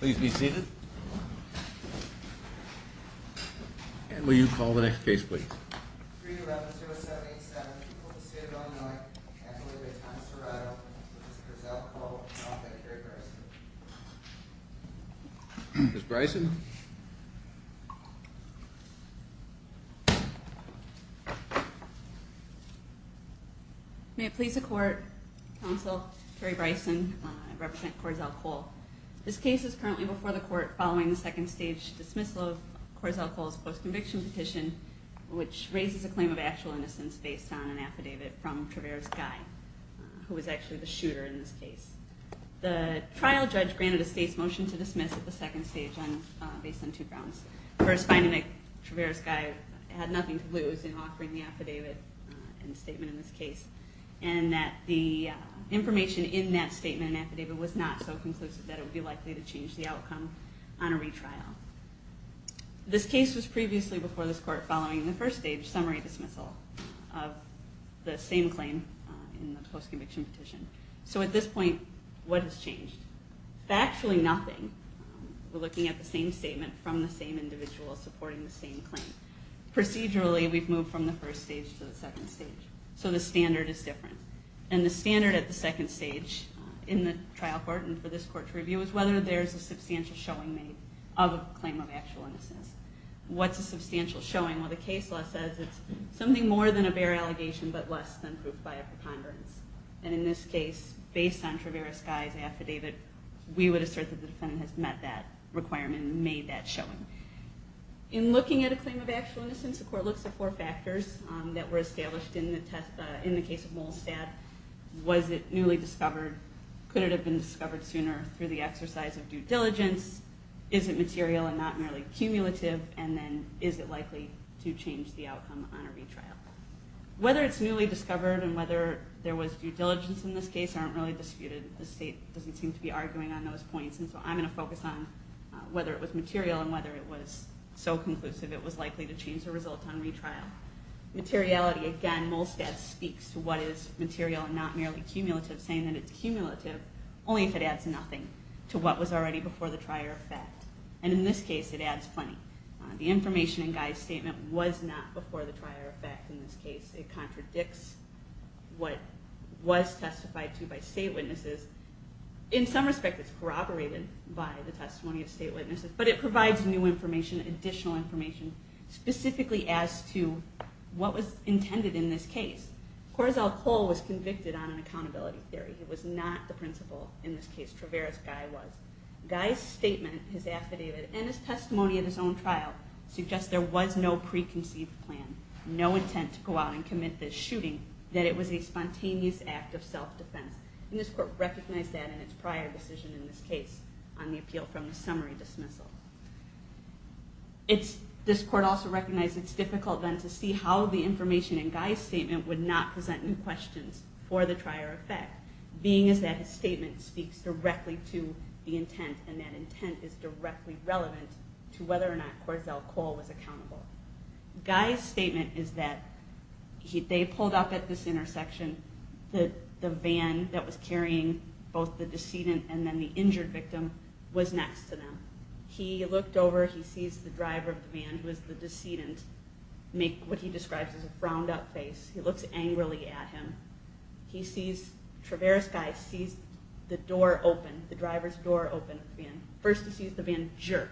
please be seated and will you call the next case please 3-11-07-87, people of the state of Illinois, actively with Thomas Serrato, Mr. Corzell-Cole, and Officer Kerry Bryson. Ms. Bryson? May it please the Court, Counsel, Kerry Bryson, I represent Corzell-Cole. This case is currently before the Court following the second stage dismissal of Corzell-Cole's post-conviction petition, which raises a claim of actual innocence based on an affidavit from Travers-Guy, who was actually the shooter in this case. The trial judge granted a state's motion to dismiss at the second stage based on two grounds. First, finding that Travers-Guy had nothing to lose in offering the affidavit and statement in this case, and that the information in that statement and affidavit was not so conclusive that it would be likely to change the outcome on a retrial. This case was previously before this Court following the first stage summary dismissal of the same claim in the post-conviction petition. So at this point, what has changed? Factually nothing. We're looking at the same statement from the same individual supporting the same claim. Procedurally, we've moved from the first stage to the second stage. So the standard is different. And the standard at the second stage in the trial court and for this Court to review is whether there's a substantial showing made of a claim of actual innocence. What's a substantial showing? Well, the case law says it's something more than a bare allegation but less than proof by a preponderance. And in this case, based on Travers-Guy's affidavit, we would assert that the defendant has met that requirement and made that showing. In looking at a claim of actual innocence, the Court looks at four factors that were established in the case of Molestat. Was it newly discovered? Could it have been discovered sooner through the exercise of due diligence? Is it material and not merely cumulative? And then is it likely to change the outcome on a retrial? Whether it's newly discovered and whether there was due diligence in this case aren't really disputed. The state doesn't seem to be arguing on those points. And so I'm going to focus on whether it was material and whether it was so conclusive it was likely to change the result on retrial. Materiality, again, Molestat speaks to what is material and not merely cumulative, saying that it's cumulative only if it adds nothing to what was already before the trial effect. And in this case, it adds plenty. The information in Guy's statement was not before the trial effect in this case. It contradicts what was testified to by state witnesses. In some respect, it's corroborated by the testimony of state witnesses, but it provides new information, additional information, specifically as to what was intended in this case. Corazel Cole was convicted on an accountability theory. It was not the principal in this case. Travera's Guy was. Guy's statement, his affidavit, and his testimony in his own trial suggest there was no preconceived plan, no intent to go out and commit this shooting, that it was a spontaneous act of self-defense. And this court recognized that in its prior decision in this case on the appeal from the summary dismissal. This court also recognized it's difficult then to see how the information in Guy's statement would not present new questions for the trial effect, being as that his statement speaks directly to the intent and that intent is directly relevant to whether or not Corazel Cole was accountable. Guy's statement is that they pulled up at this intersection. The van that was carrying both the decedent and then the injured victim was next to them. He looked over, he sees the driver of the van, who is the decedent, make what he describes as a frowned up face. He looks angrily at him. He sees, Travera's Guy sees the door open, the driver's door open. First he sees the van jerk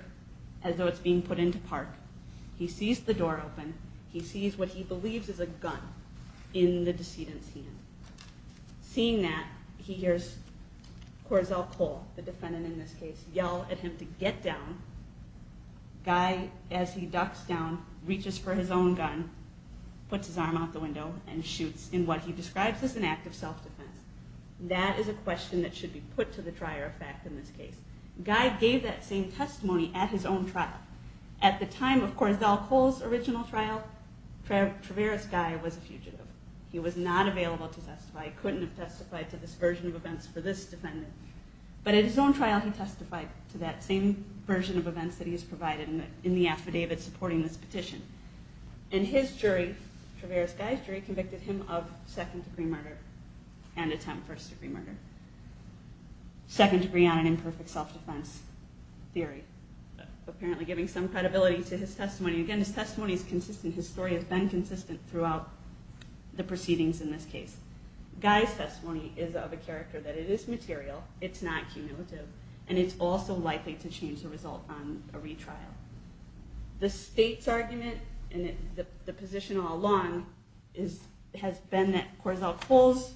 as though it's being put into park. He sees the door open. He sees what he believes is a gun in the decedent's hand. Seeing that, he hears Corazel Cole, the defendant in this case, yell at him to get down. Guy, as he ducks down, reaches for his own gun, puts his arm out the window, and shoots in what he describes as an act of self-defense. That is a question that should be put to the trier of fact in this case. Guy gave that same testimony at his own trial. At the time of Corazel Cole's original trial, Travera's Guy was a fugitive. He was not available to testify, couldn't have testified to this version of events for this defendant. But at his own trial, he testified to that same version of events that he has provided in the affidavit supporting this petition. And his jury, Travera's Guy's jury, convicted him of second degree murder and attempt first degree murder. Second degree on an imperfect self-defense theory. Apparently giving some credibility to his testimony. Again, his testimony is consistent. His story has been consistent throughout the proceedings in this case. Guy's testimony is of a character that it is material, it's not cumulative, and it's also likely to change the result on a retrial. The state's argument and the position all along has been that Corazel Cole's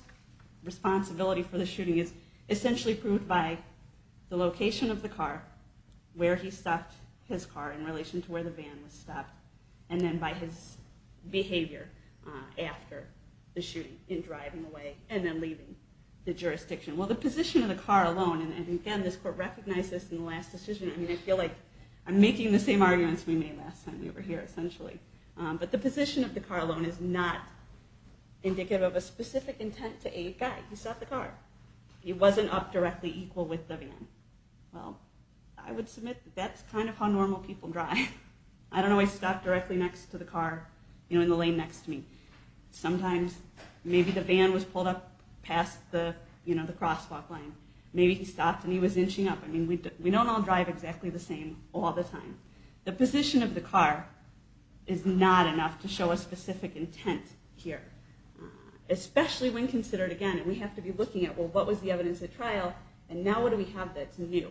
responsibility for the shooting is essentially proved by the location of the car, where he stopped his car in relation to where the van was stopped, and then by his behavior after the shooting in driving away and then leaving the jurisdiction. Well, the position of the car alone, and again, this court recognized this in the last decision, I feel like I'm making the same arguments we made last time we were here, essentially. But the position of the car alone is not indicative of a specific intent to aid Guy. He stopped the car. He wasn't up directly equal with the van. Well, I would submit that that's kind of how normal people drive. I don't always stop directly next to the car in the lane next to me. Sometimes maybe the van was pulled up past the crosswalk line. Maybe he stopped and he was inching up. I mean, we don't all drive exactly the same all the time. The position of the car is not enough to show a specific intent here, especially when considered again, and we have to be looking at, well, what was the evidence at trial, and now what do we have that's new?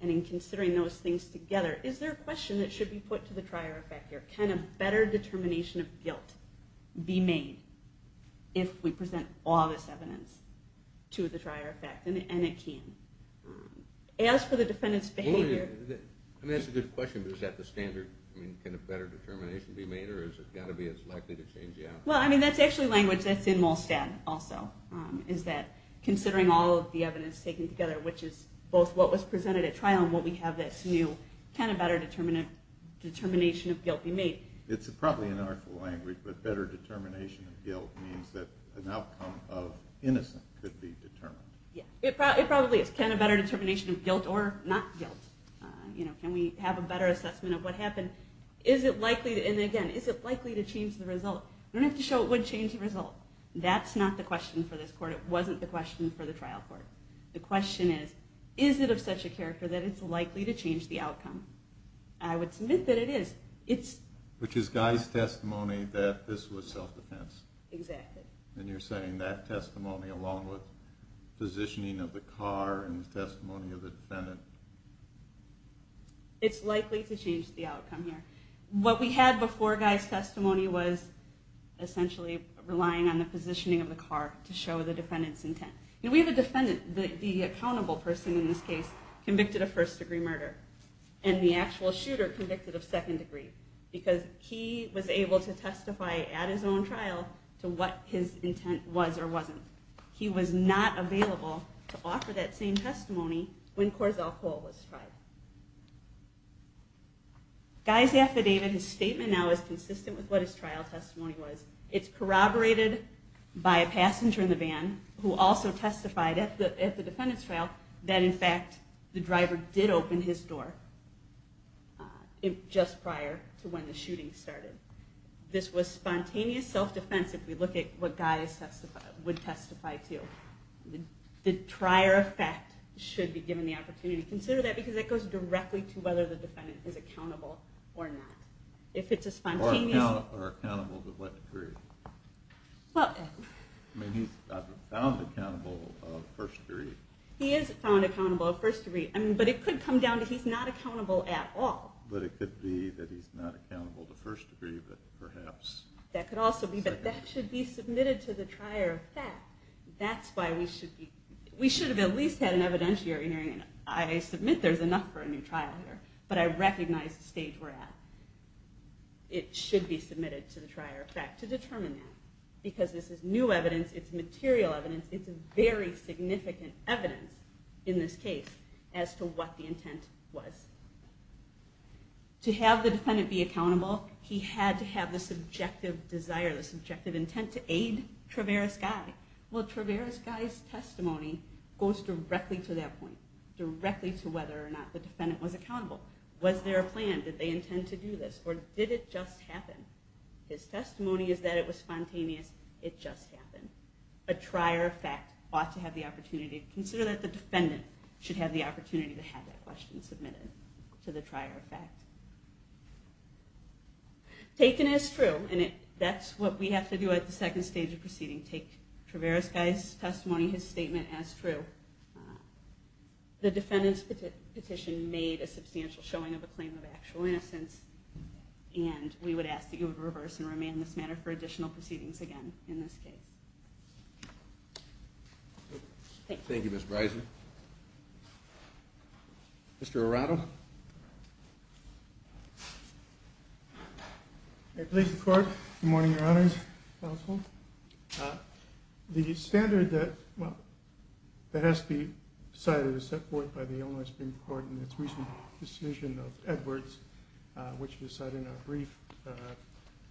And in considering those things together, is there a question that should be put to the trier effect here? Can a better determination of guilt be made if we present all this evidence to the trier effect? And it can. As for the defendant's behavior... I mean, that's a good question, but is that the standard? I mean, can a better determination be made, or has it got to be as likely to change the outcome? Well, I mean, that's actually language that's in MOLSTAT also, is that considering all of the evidence taken together, which is both what was presented at trial and what we have that's new, can a better determination of guilt be made? It's probably an artful language, but better determination of guilt means that an outcome of innocence could be determined. It probably is. Can a better determination of guilt or not guilt? Can we have a better assessment of what happened? Is it likely to change the result? We don't have to show it would change the result. That's not the question for this court. It wasn't the question for the trial court. The question is, is it of such a character that it's likely to change the outcome? I would submit that it is. Which is Guy's testimony that this was self-defense. Exactly. And you're saying that testimony, along with positioning of the car and the testimony of the defendant? It's likely to change the outcome here. What we had before Guy's testimony was essentially relying on the positioning of the car to show the defendant's intent. We have a defendant, the accountable person in this case, convicted of first-degree murder, and the actual shooter convicted of second-degree, because he was able to testify at his own trial to what his intent was or wasn't. He was not available to offer that same testimony when Corzell Cole was tried. Guy's affidavit, his statement now, is consistent with what his trial testimony was. It's corroborated by a passenger in the van who also testified at the defendant's trial that, in fact, the driver did open his door just prior to when the shooting started. This was spontaneous self-defense if we look at what Guy would testify to. The prior effect should be given the opportunity to consider that, because it goes directly to whether the defendant is accountable or not. Or accountable to what degree? I mean, he's found accountable of first-degree. He is found accountable of first-degree. But it could come down to he's not accountable at all. But it could be that he's not accountable to first-degree, but perhaps. That could also be. But that should be submitted to the trier of fact. That's why we should be. We should have at least had an evidentiary hearing. I submit there's enough for a new trial here, but I recognize the stage we're at. It should be submitted to the trier of fact to determine that, because this is new evidence. It's material evidence. It's very significant evidence in this case as to what the intent was. To have the defendant be accountable, he had to have the subjective desire, the subjective intent to aid Traveris Guy. Well, Traveris Guy's testimony goes directly to that point, directly to whether or not the defendant was accountable. Was there a plan? Did they intend to do this? Or did it just happen? His testimony is that it was spontaneous. It just happened. A trier of fact ought to have the opportunity. Consider that the defendant should have the opportunity to have that question submitted to the trier of fact. Taken as true, and that's what we have to do at the second stage of proceeding, take Traveris Guy's testimony, his statement, as true. The defendant's petition made a substantial showing of a claim of actual innocence, and we would ask that you would reverse and remand this matter for additional proceedings again in this case. Thank you, Ms. Bryson. Mr. Arado. Good morning, Your Honors. The standard that has to be decided is set forth by the Illinois Supreme Court in its recent decision of Edwards, which you cited in our brief.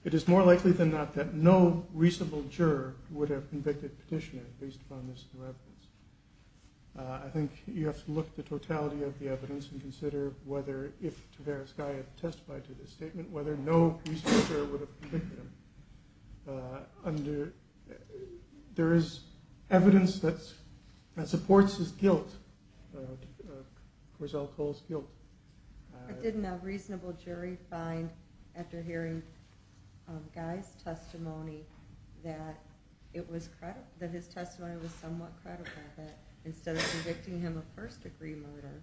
It is more likely than not that no reasonable juror would have convicted petitioner based upon this new evidence. I think you have to look at the totality of the evidence and consider whether, if Traveris Guy had testified to this statement, whether no reasonable juror would have convicted him. There is evidence that supports his guilt, Corzell Cole's guilt. Didn't a reasonable jury find, after hearing Guy's testimony, that his testimony was somewhat credible, that instead of convicting him of first-degree murder,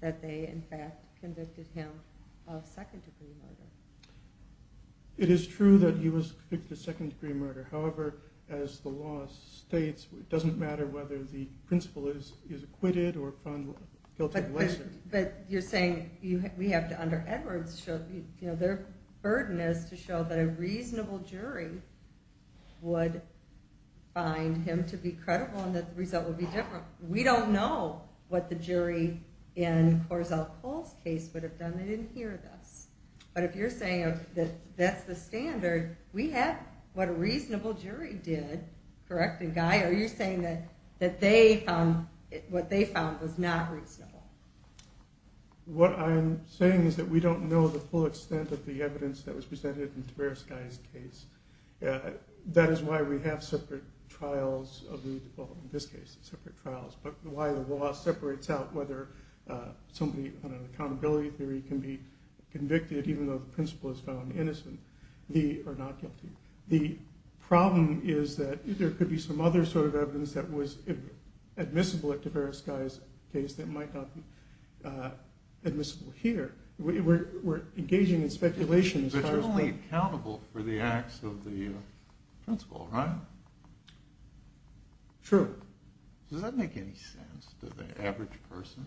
that they, in fact, convicted him of second-degree murder? It is true that he was convicted of second-degree murder. However, as the law states, it doesn't matter whether the principal is acquitted or found guilty of lesser. But you're saying we have to, under Edwards, their burden is to show that a reasonable jury would find him to be credible and that the result would be different. We don't know what the jury in Corzell Cole's case would have done. They didn't hear this. But if you're saying that that's the standard, we have what a reasonable jury did, correct? And, Guy, are you saying that what they found was not reasonable? What I'm saying is that we don't know the full extent of the evidence that was presented in Traveris Guy's case. That is why we have separate trials, in this case separate trials, but why the law separates out whether somebody, on an accountability theory, can be convicted, even though the principal is found innocent or not guilty. The problem is that there could be some other sort of evidence that was admissible at Traveris Guy's case that might not be admissible here. We're engaging in speculation. But you're only accountable for the acts of the principal, right? True. Does that make any sense to the average person?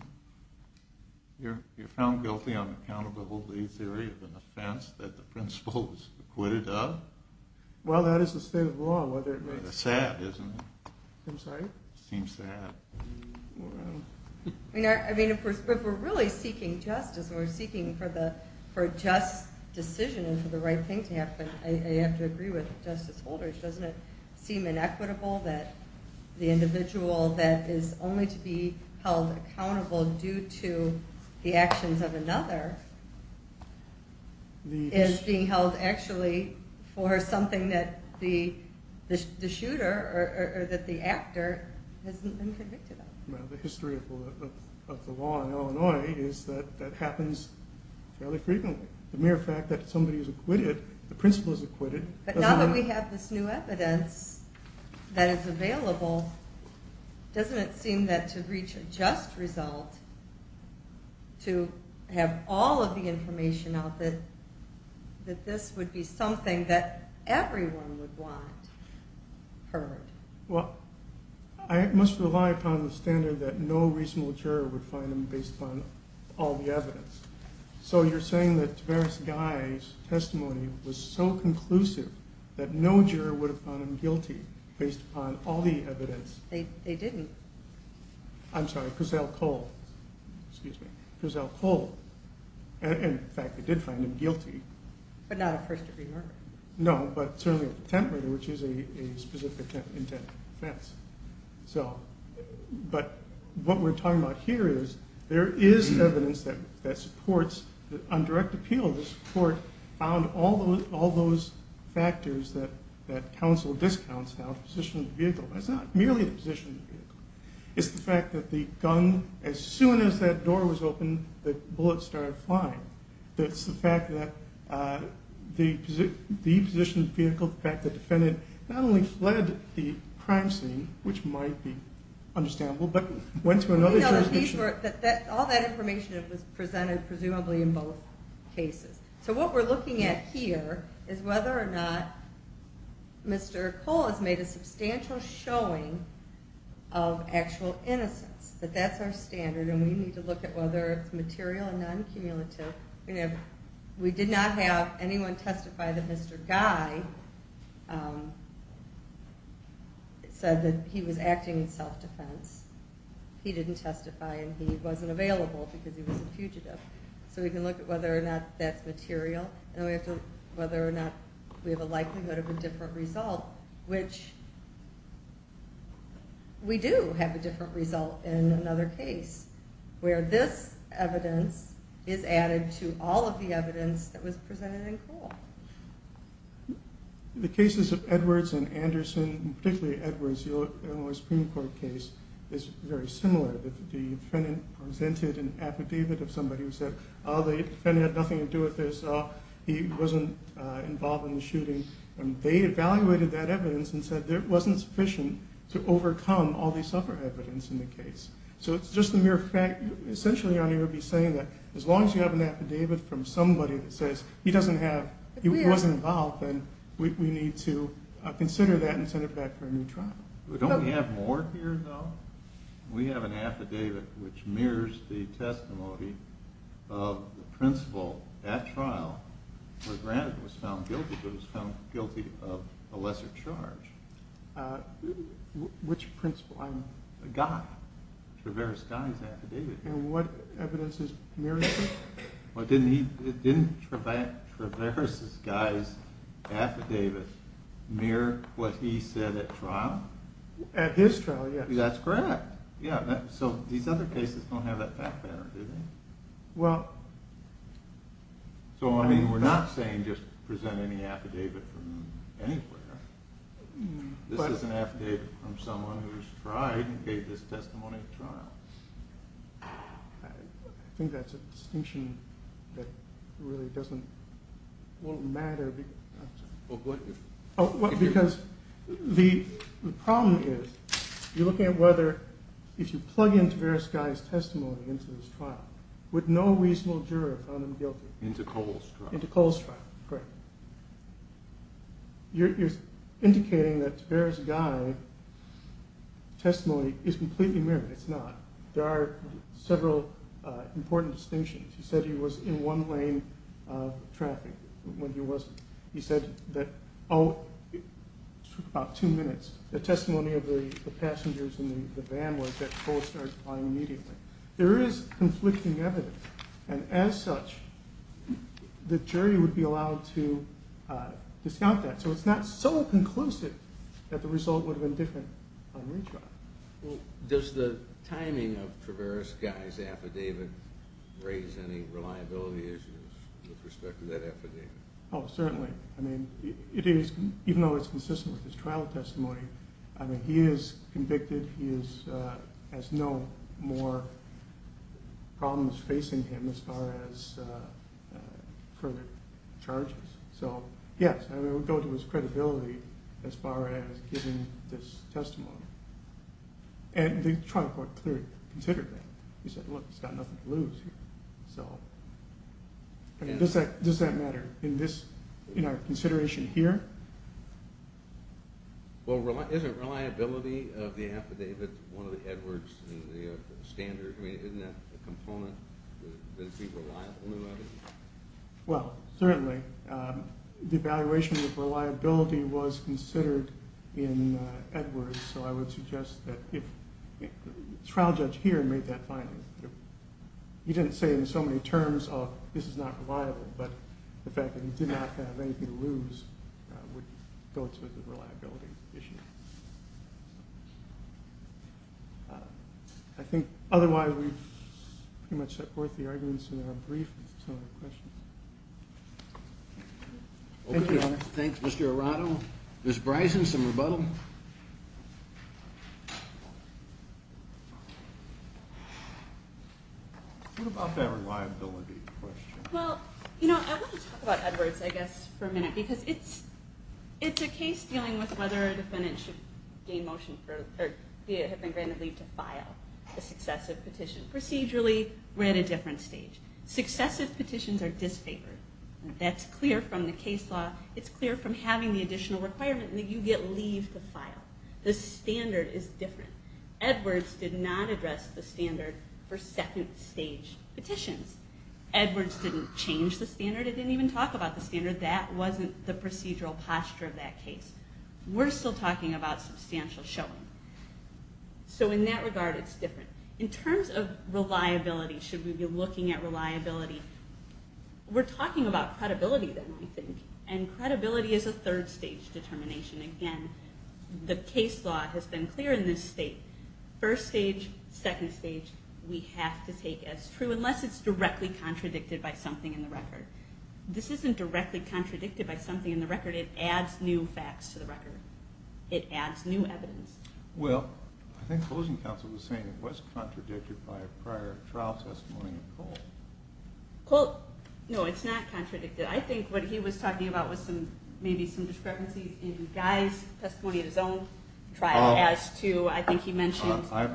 You're found guilty on accountability theory of an offense that the principal was acquitted of? Well, that is the state of law, whether it makes sense. Sad, isn't it? I'm sorry? It seems sad. I mean, if we're really seeking justice and we're seeking for a just decision and for the right thing to happen, I have to agree with Justice Holder. Doesn't it seem inequitable that the individual that is only to be held accountable due to the actions of another is being held actually for something that the shooter or that the actor has been convicted of? The history of the law in Illinois is that that happens fairly frequently. The mere fact that somebody is acquitted, the principal is acquitted. But now that we have this new evidence that is available, doesn't it seem that to reach a just result, to have all of the information out that this would be something that everyone would want heard? Well, I must rely upon the standard that no reasonable juror would find them based upon all the evidence. So you're saying that Taveras Guy's testimony was so conclusive that no juror would have found him guilty based upon all the evidence. They didn't. I'm sorry, Cazale Cole. Excuse me. Cazale Cole. In fact, they did find him guilty. But not a first-degree murder. No, but certainly a contempt murder, which is a specific intent offense. But what we're talking about here is there is evidence that supports, on direct appeal, the support found all those factors that counsel discounts now, the position of the vehicle. But it's not merely the position of the vehicle. It's the fact that the gun, as soon as that door was open, the bullet started flying. It's the fact that the position of the vehicle, the fact that the defendant not only fled the crime scene, which might be understandable, but went to another jurisdiction. All that information was presented, presumably, in both cases. So what we're looking at here is whether or not Mr. Cole has made a substantial showing of actual innocence, that that's our standard, and we need to look at whether it's material and non-cumulative. We did not have anyone testify that Mr. Guy said that he was acting in self-defense. He didn't testify, and he wasn't available because he was a fugitive. So we can look at whether or not that's material, and whether or not we have a likelihood of a different result, which we do have a different result in another case, where this evidence is added to all of the evidence that was presented in Cole. The cases of Edwards and Anderson, particularly Edwards' Illinois Supreme Court case, is very similar. The defendant presented an affidavit of somebody who said, oh, the defendant had nothing to do with this, he wasn't involved in the shooting. They evaluated that evidence and said it wasn't sufficient to overcome all the other evidence in the case. So it's just the mere fact, essentially, I'm going to be saying that as long as you have an affidavit from somebody that says he doesn't have, he wasn't involved, then we need to consider that and send it back for a new trial. Don't we have more here, though? We have an affidavit which mirrors the testimony of the principal at trial, where granted it was found guilty, but it was found guilty of a lesser charge. Which principal? A guy, Travers' guy's affidavit. And what evidence is mirrored here? Didn't Travers' guy's affidavit mirror what he said at trial? At his trial, yes. That's correct. So these other cases don't have that fact pattern, do they? Well. So, I mean, we're not saying just present any affidavit from anywhere. This is an affidavit from someone who's tried and gave this testimony at trial. I think that's a distinction that really doesn't matter because the problem is you're looking at whether if you plug in Travers' guy's testimony into this trial with no reasonable juror found him guilty. Into Cole's trial. Into Cole's trial, correct. You're indicating that Travers' guy's testimony is completely mirrored. It's not. There are several important distinctions. He said he was in one lane of traffic when he wasn't. He said that it took about two minutes. The testimony of the passengers in the van was that Cole started flying immediately. There is conflicting evidence. As such, the jury would be allowed to discount that. So it's not so conclusive that the result would have been different on retrial. Does the timing of Travers' guy's affidavit raise any reliability issues with respect to that affidavit? Oh, certainly. I mean, even though it's consistent with his trial testimony, I mean, he is convicted. He has no more problems facing him as far as further charges. So, yes, I would go to his credibility as far as giving this testimony. And the trial court clearly considered that. They said, look, he's got nothing to lose here. So does that matter in our consideration here? Well, isn't reliability of the affidavit one of the Edwards standards? I mean, isn't that a component? Does it be reliable? Well, certainly. The evaluation of reliability was considered in Edwards. So I would suggest that if the trial judge here made that finding, he didn't say it in so many terms of this is not reliable, but the fact that he did not have anything to lose would go to the reliability issue. I think otherwise we've pretty much set forth the arguments in our brief. If there's no other questions. Thank you. Thanks, Mr. Arado. Ms. Bryson, some rebuttal? What about that reliability question? Well, you know, I want to talk about Edwards, I guess, for a minute. Because it's a case dealing with whether a defendant should gain motion or be granted leave to file a successive petition. Procedurally, we're at a different stage. Successive petitions are disfavored. That's clear from the case law. It's clear from having the additional requirement that you get leave to file. The standard is different. Edwards did not address the standard for second stage petitions. Edwards didn't change the standard. It didn't even talk about the standard. That wasn't the procedural posture of that case. We're still talking about substantial showing. So in that regard, it's different. In terms of reliability, should we be looking at reliability, we're talking about credibility then, I think. And credibility is a third-stage determination. Again, the case law has been clear in this state. First stage, second stage, we have to take as true, unless it's directly contradicted by something in the record. This isn't directly contradicted by something in the record. It adds new facts to the record. It adds new evidence. Well, I think Closing Counsel was saying it was contradicted by prior trial testimony of Cole. Cole? No, it's not contradicted. I think what he was talking about was maybe some discrepancies in Guy's testimony of his own trial as to, I think he mentioned. I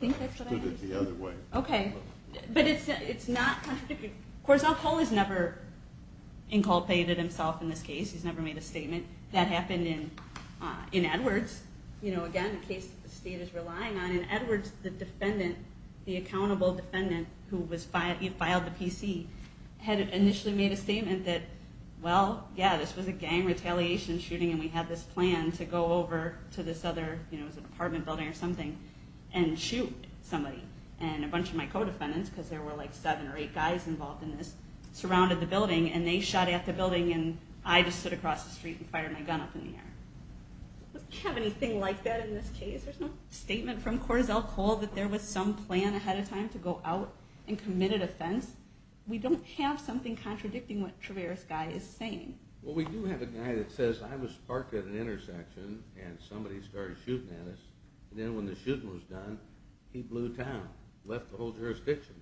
think that's what I understood it the other way. Okay. But it's not contradicted. Of course, Cole has never inculpated himself in this case. He's never made a statement. That happened in Edwards. Again, a case that the state is relying on. In Edwards, the defendant, the accountable defendant who filed the PC, had initially made a statement that, well, yeah, this was a gang retaliation shooting, and we had this plan to go over to this other, it was an apartment building or something, and shoot somebody. And a bunch of my co-defendants, because there were like seven or eight guys involved in this, surrounded the building, and they shot at the building, and I just stood across the street and fired my gun up in the air. We don't have anything like that in this case. There's no statement from Corazelle Cole that there was some plan ahead of time to go out and commit an offense. We don't have something contradicting what Traveris Guy is saying. Well, we do have a guy that says, I was parked at an intersection and somebody started shooting at us, and then when the shooting was done, he blew town, left the whole jurisdiction.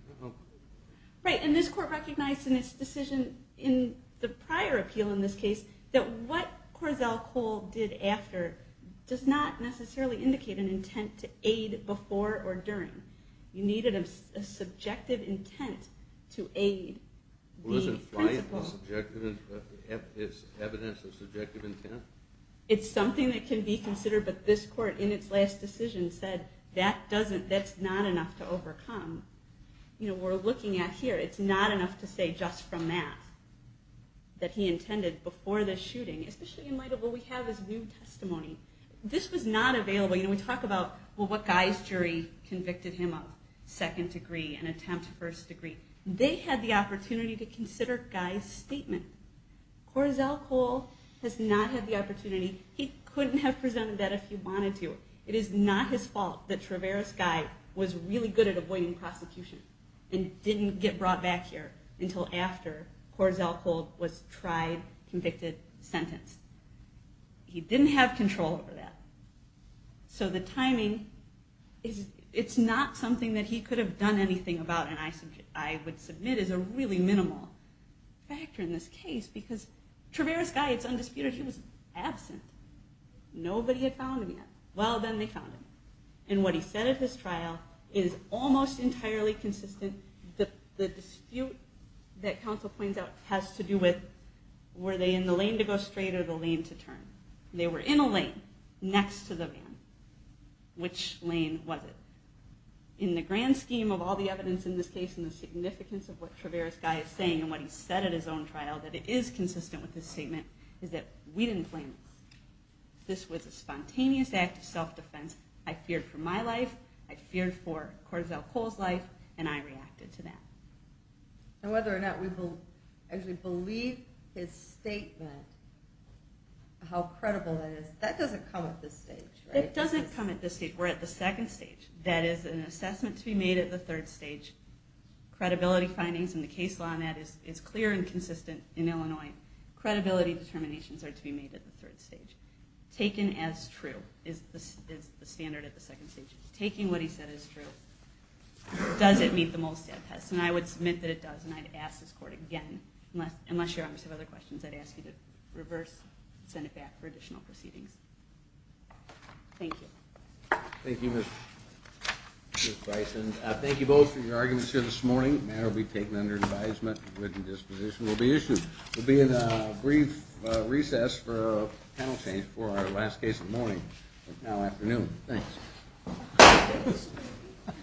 Right. And this court recognized in its decision in the prior appeal in this case that what Corazelle Cole did after does not necessarily indicate an intent to aid before or during. You needed a subjective intent to aid the principal. Well, is it evidence of subjective intent? It's something that can be considered, but this court in its last decision said that's not enough to overcome. We're looking at here, it's not enough to say just from that, that he intended before the shooting, especially in light of what we have as new testimony, this was not available. We talk about what Guy's jury convicted him of, second degree and attempt first degree. They had the opportunity to consider Guy's statement. Corazelle Cole has not had the opportunity. He couldn't have presented that if he wanted to. It is not his fault that Traveris Guy was really good at avoiding prosecution and didn't get brought back here until after Corazelle Cole was tried, convicted, sentenced. He didn't have control over that. So the timing, it's not something that he could have done anything about, and I would submit as a really minimal factor in this case, because Traveris Guy, it's undisputed, he was absent. Nobody had found him yet. Well, then they found him. And what he said at his trial is almost entirely consistent. The dispute that counsel points out has to do with, were they in the lane to go straight or the lane to turn? They were in a lane next to the van. Which lane was it? In the grand scheme of all the evidence in this case and the significance of what Traveris Guy is saying and what he said at his own trial, that it is consistent with his statement, is that we didn't plan this. This was a spontaneous act of self-defense. I feared for my life, I feared for Corazelle Cole's life, and I reacted to that. And whether or not we actually believe his statement, how credible that is, that doesn't come at this stage, right? It doesn't come at this stage. We're at the second stage. That is an assessment to be made at the third stage. Credibility findings in the case law on that is clear and consistent in Illinois. Credibility determinations are to be made at the third stage. Taken as true is the standard at the second stage. Taking what he said is true. Does it meet the Molestat test? And I would submit that it does, and I'd ask this court again, unless you obviously have other questions, I'd ask you to reverse and send it back for additional proceedings. Thank you. Thank you, Ms. Bryson. Thank you both for your arguments here this morning. The matter will be taken under advisement and written disposition. We'll be in a brief recess for a panel change for our last case of the morning, now afternoon. Thanks.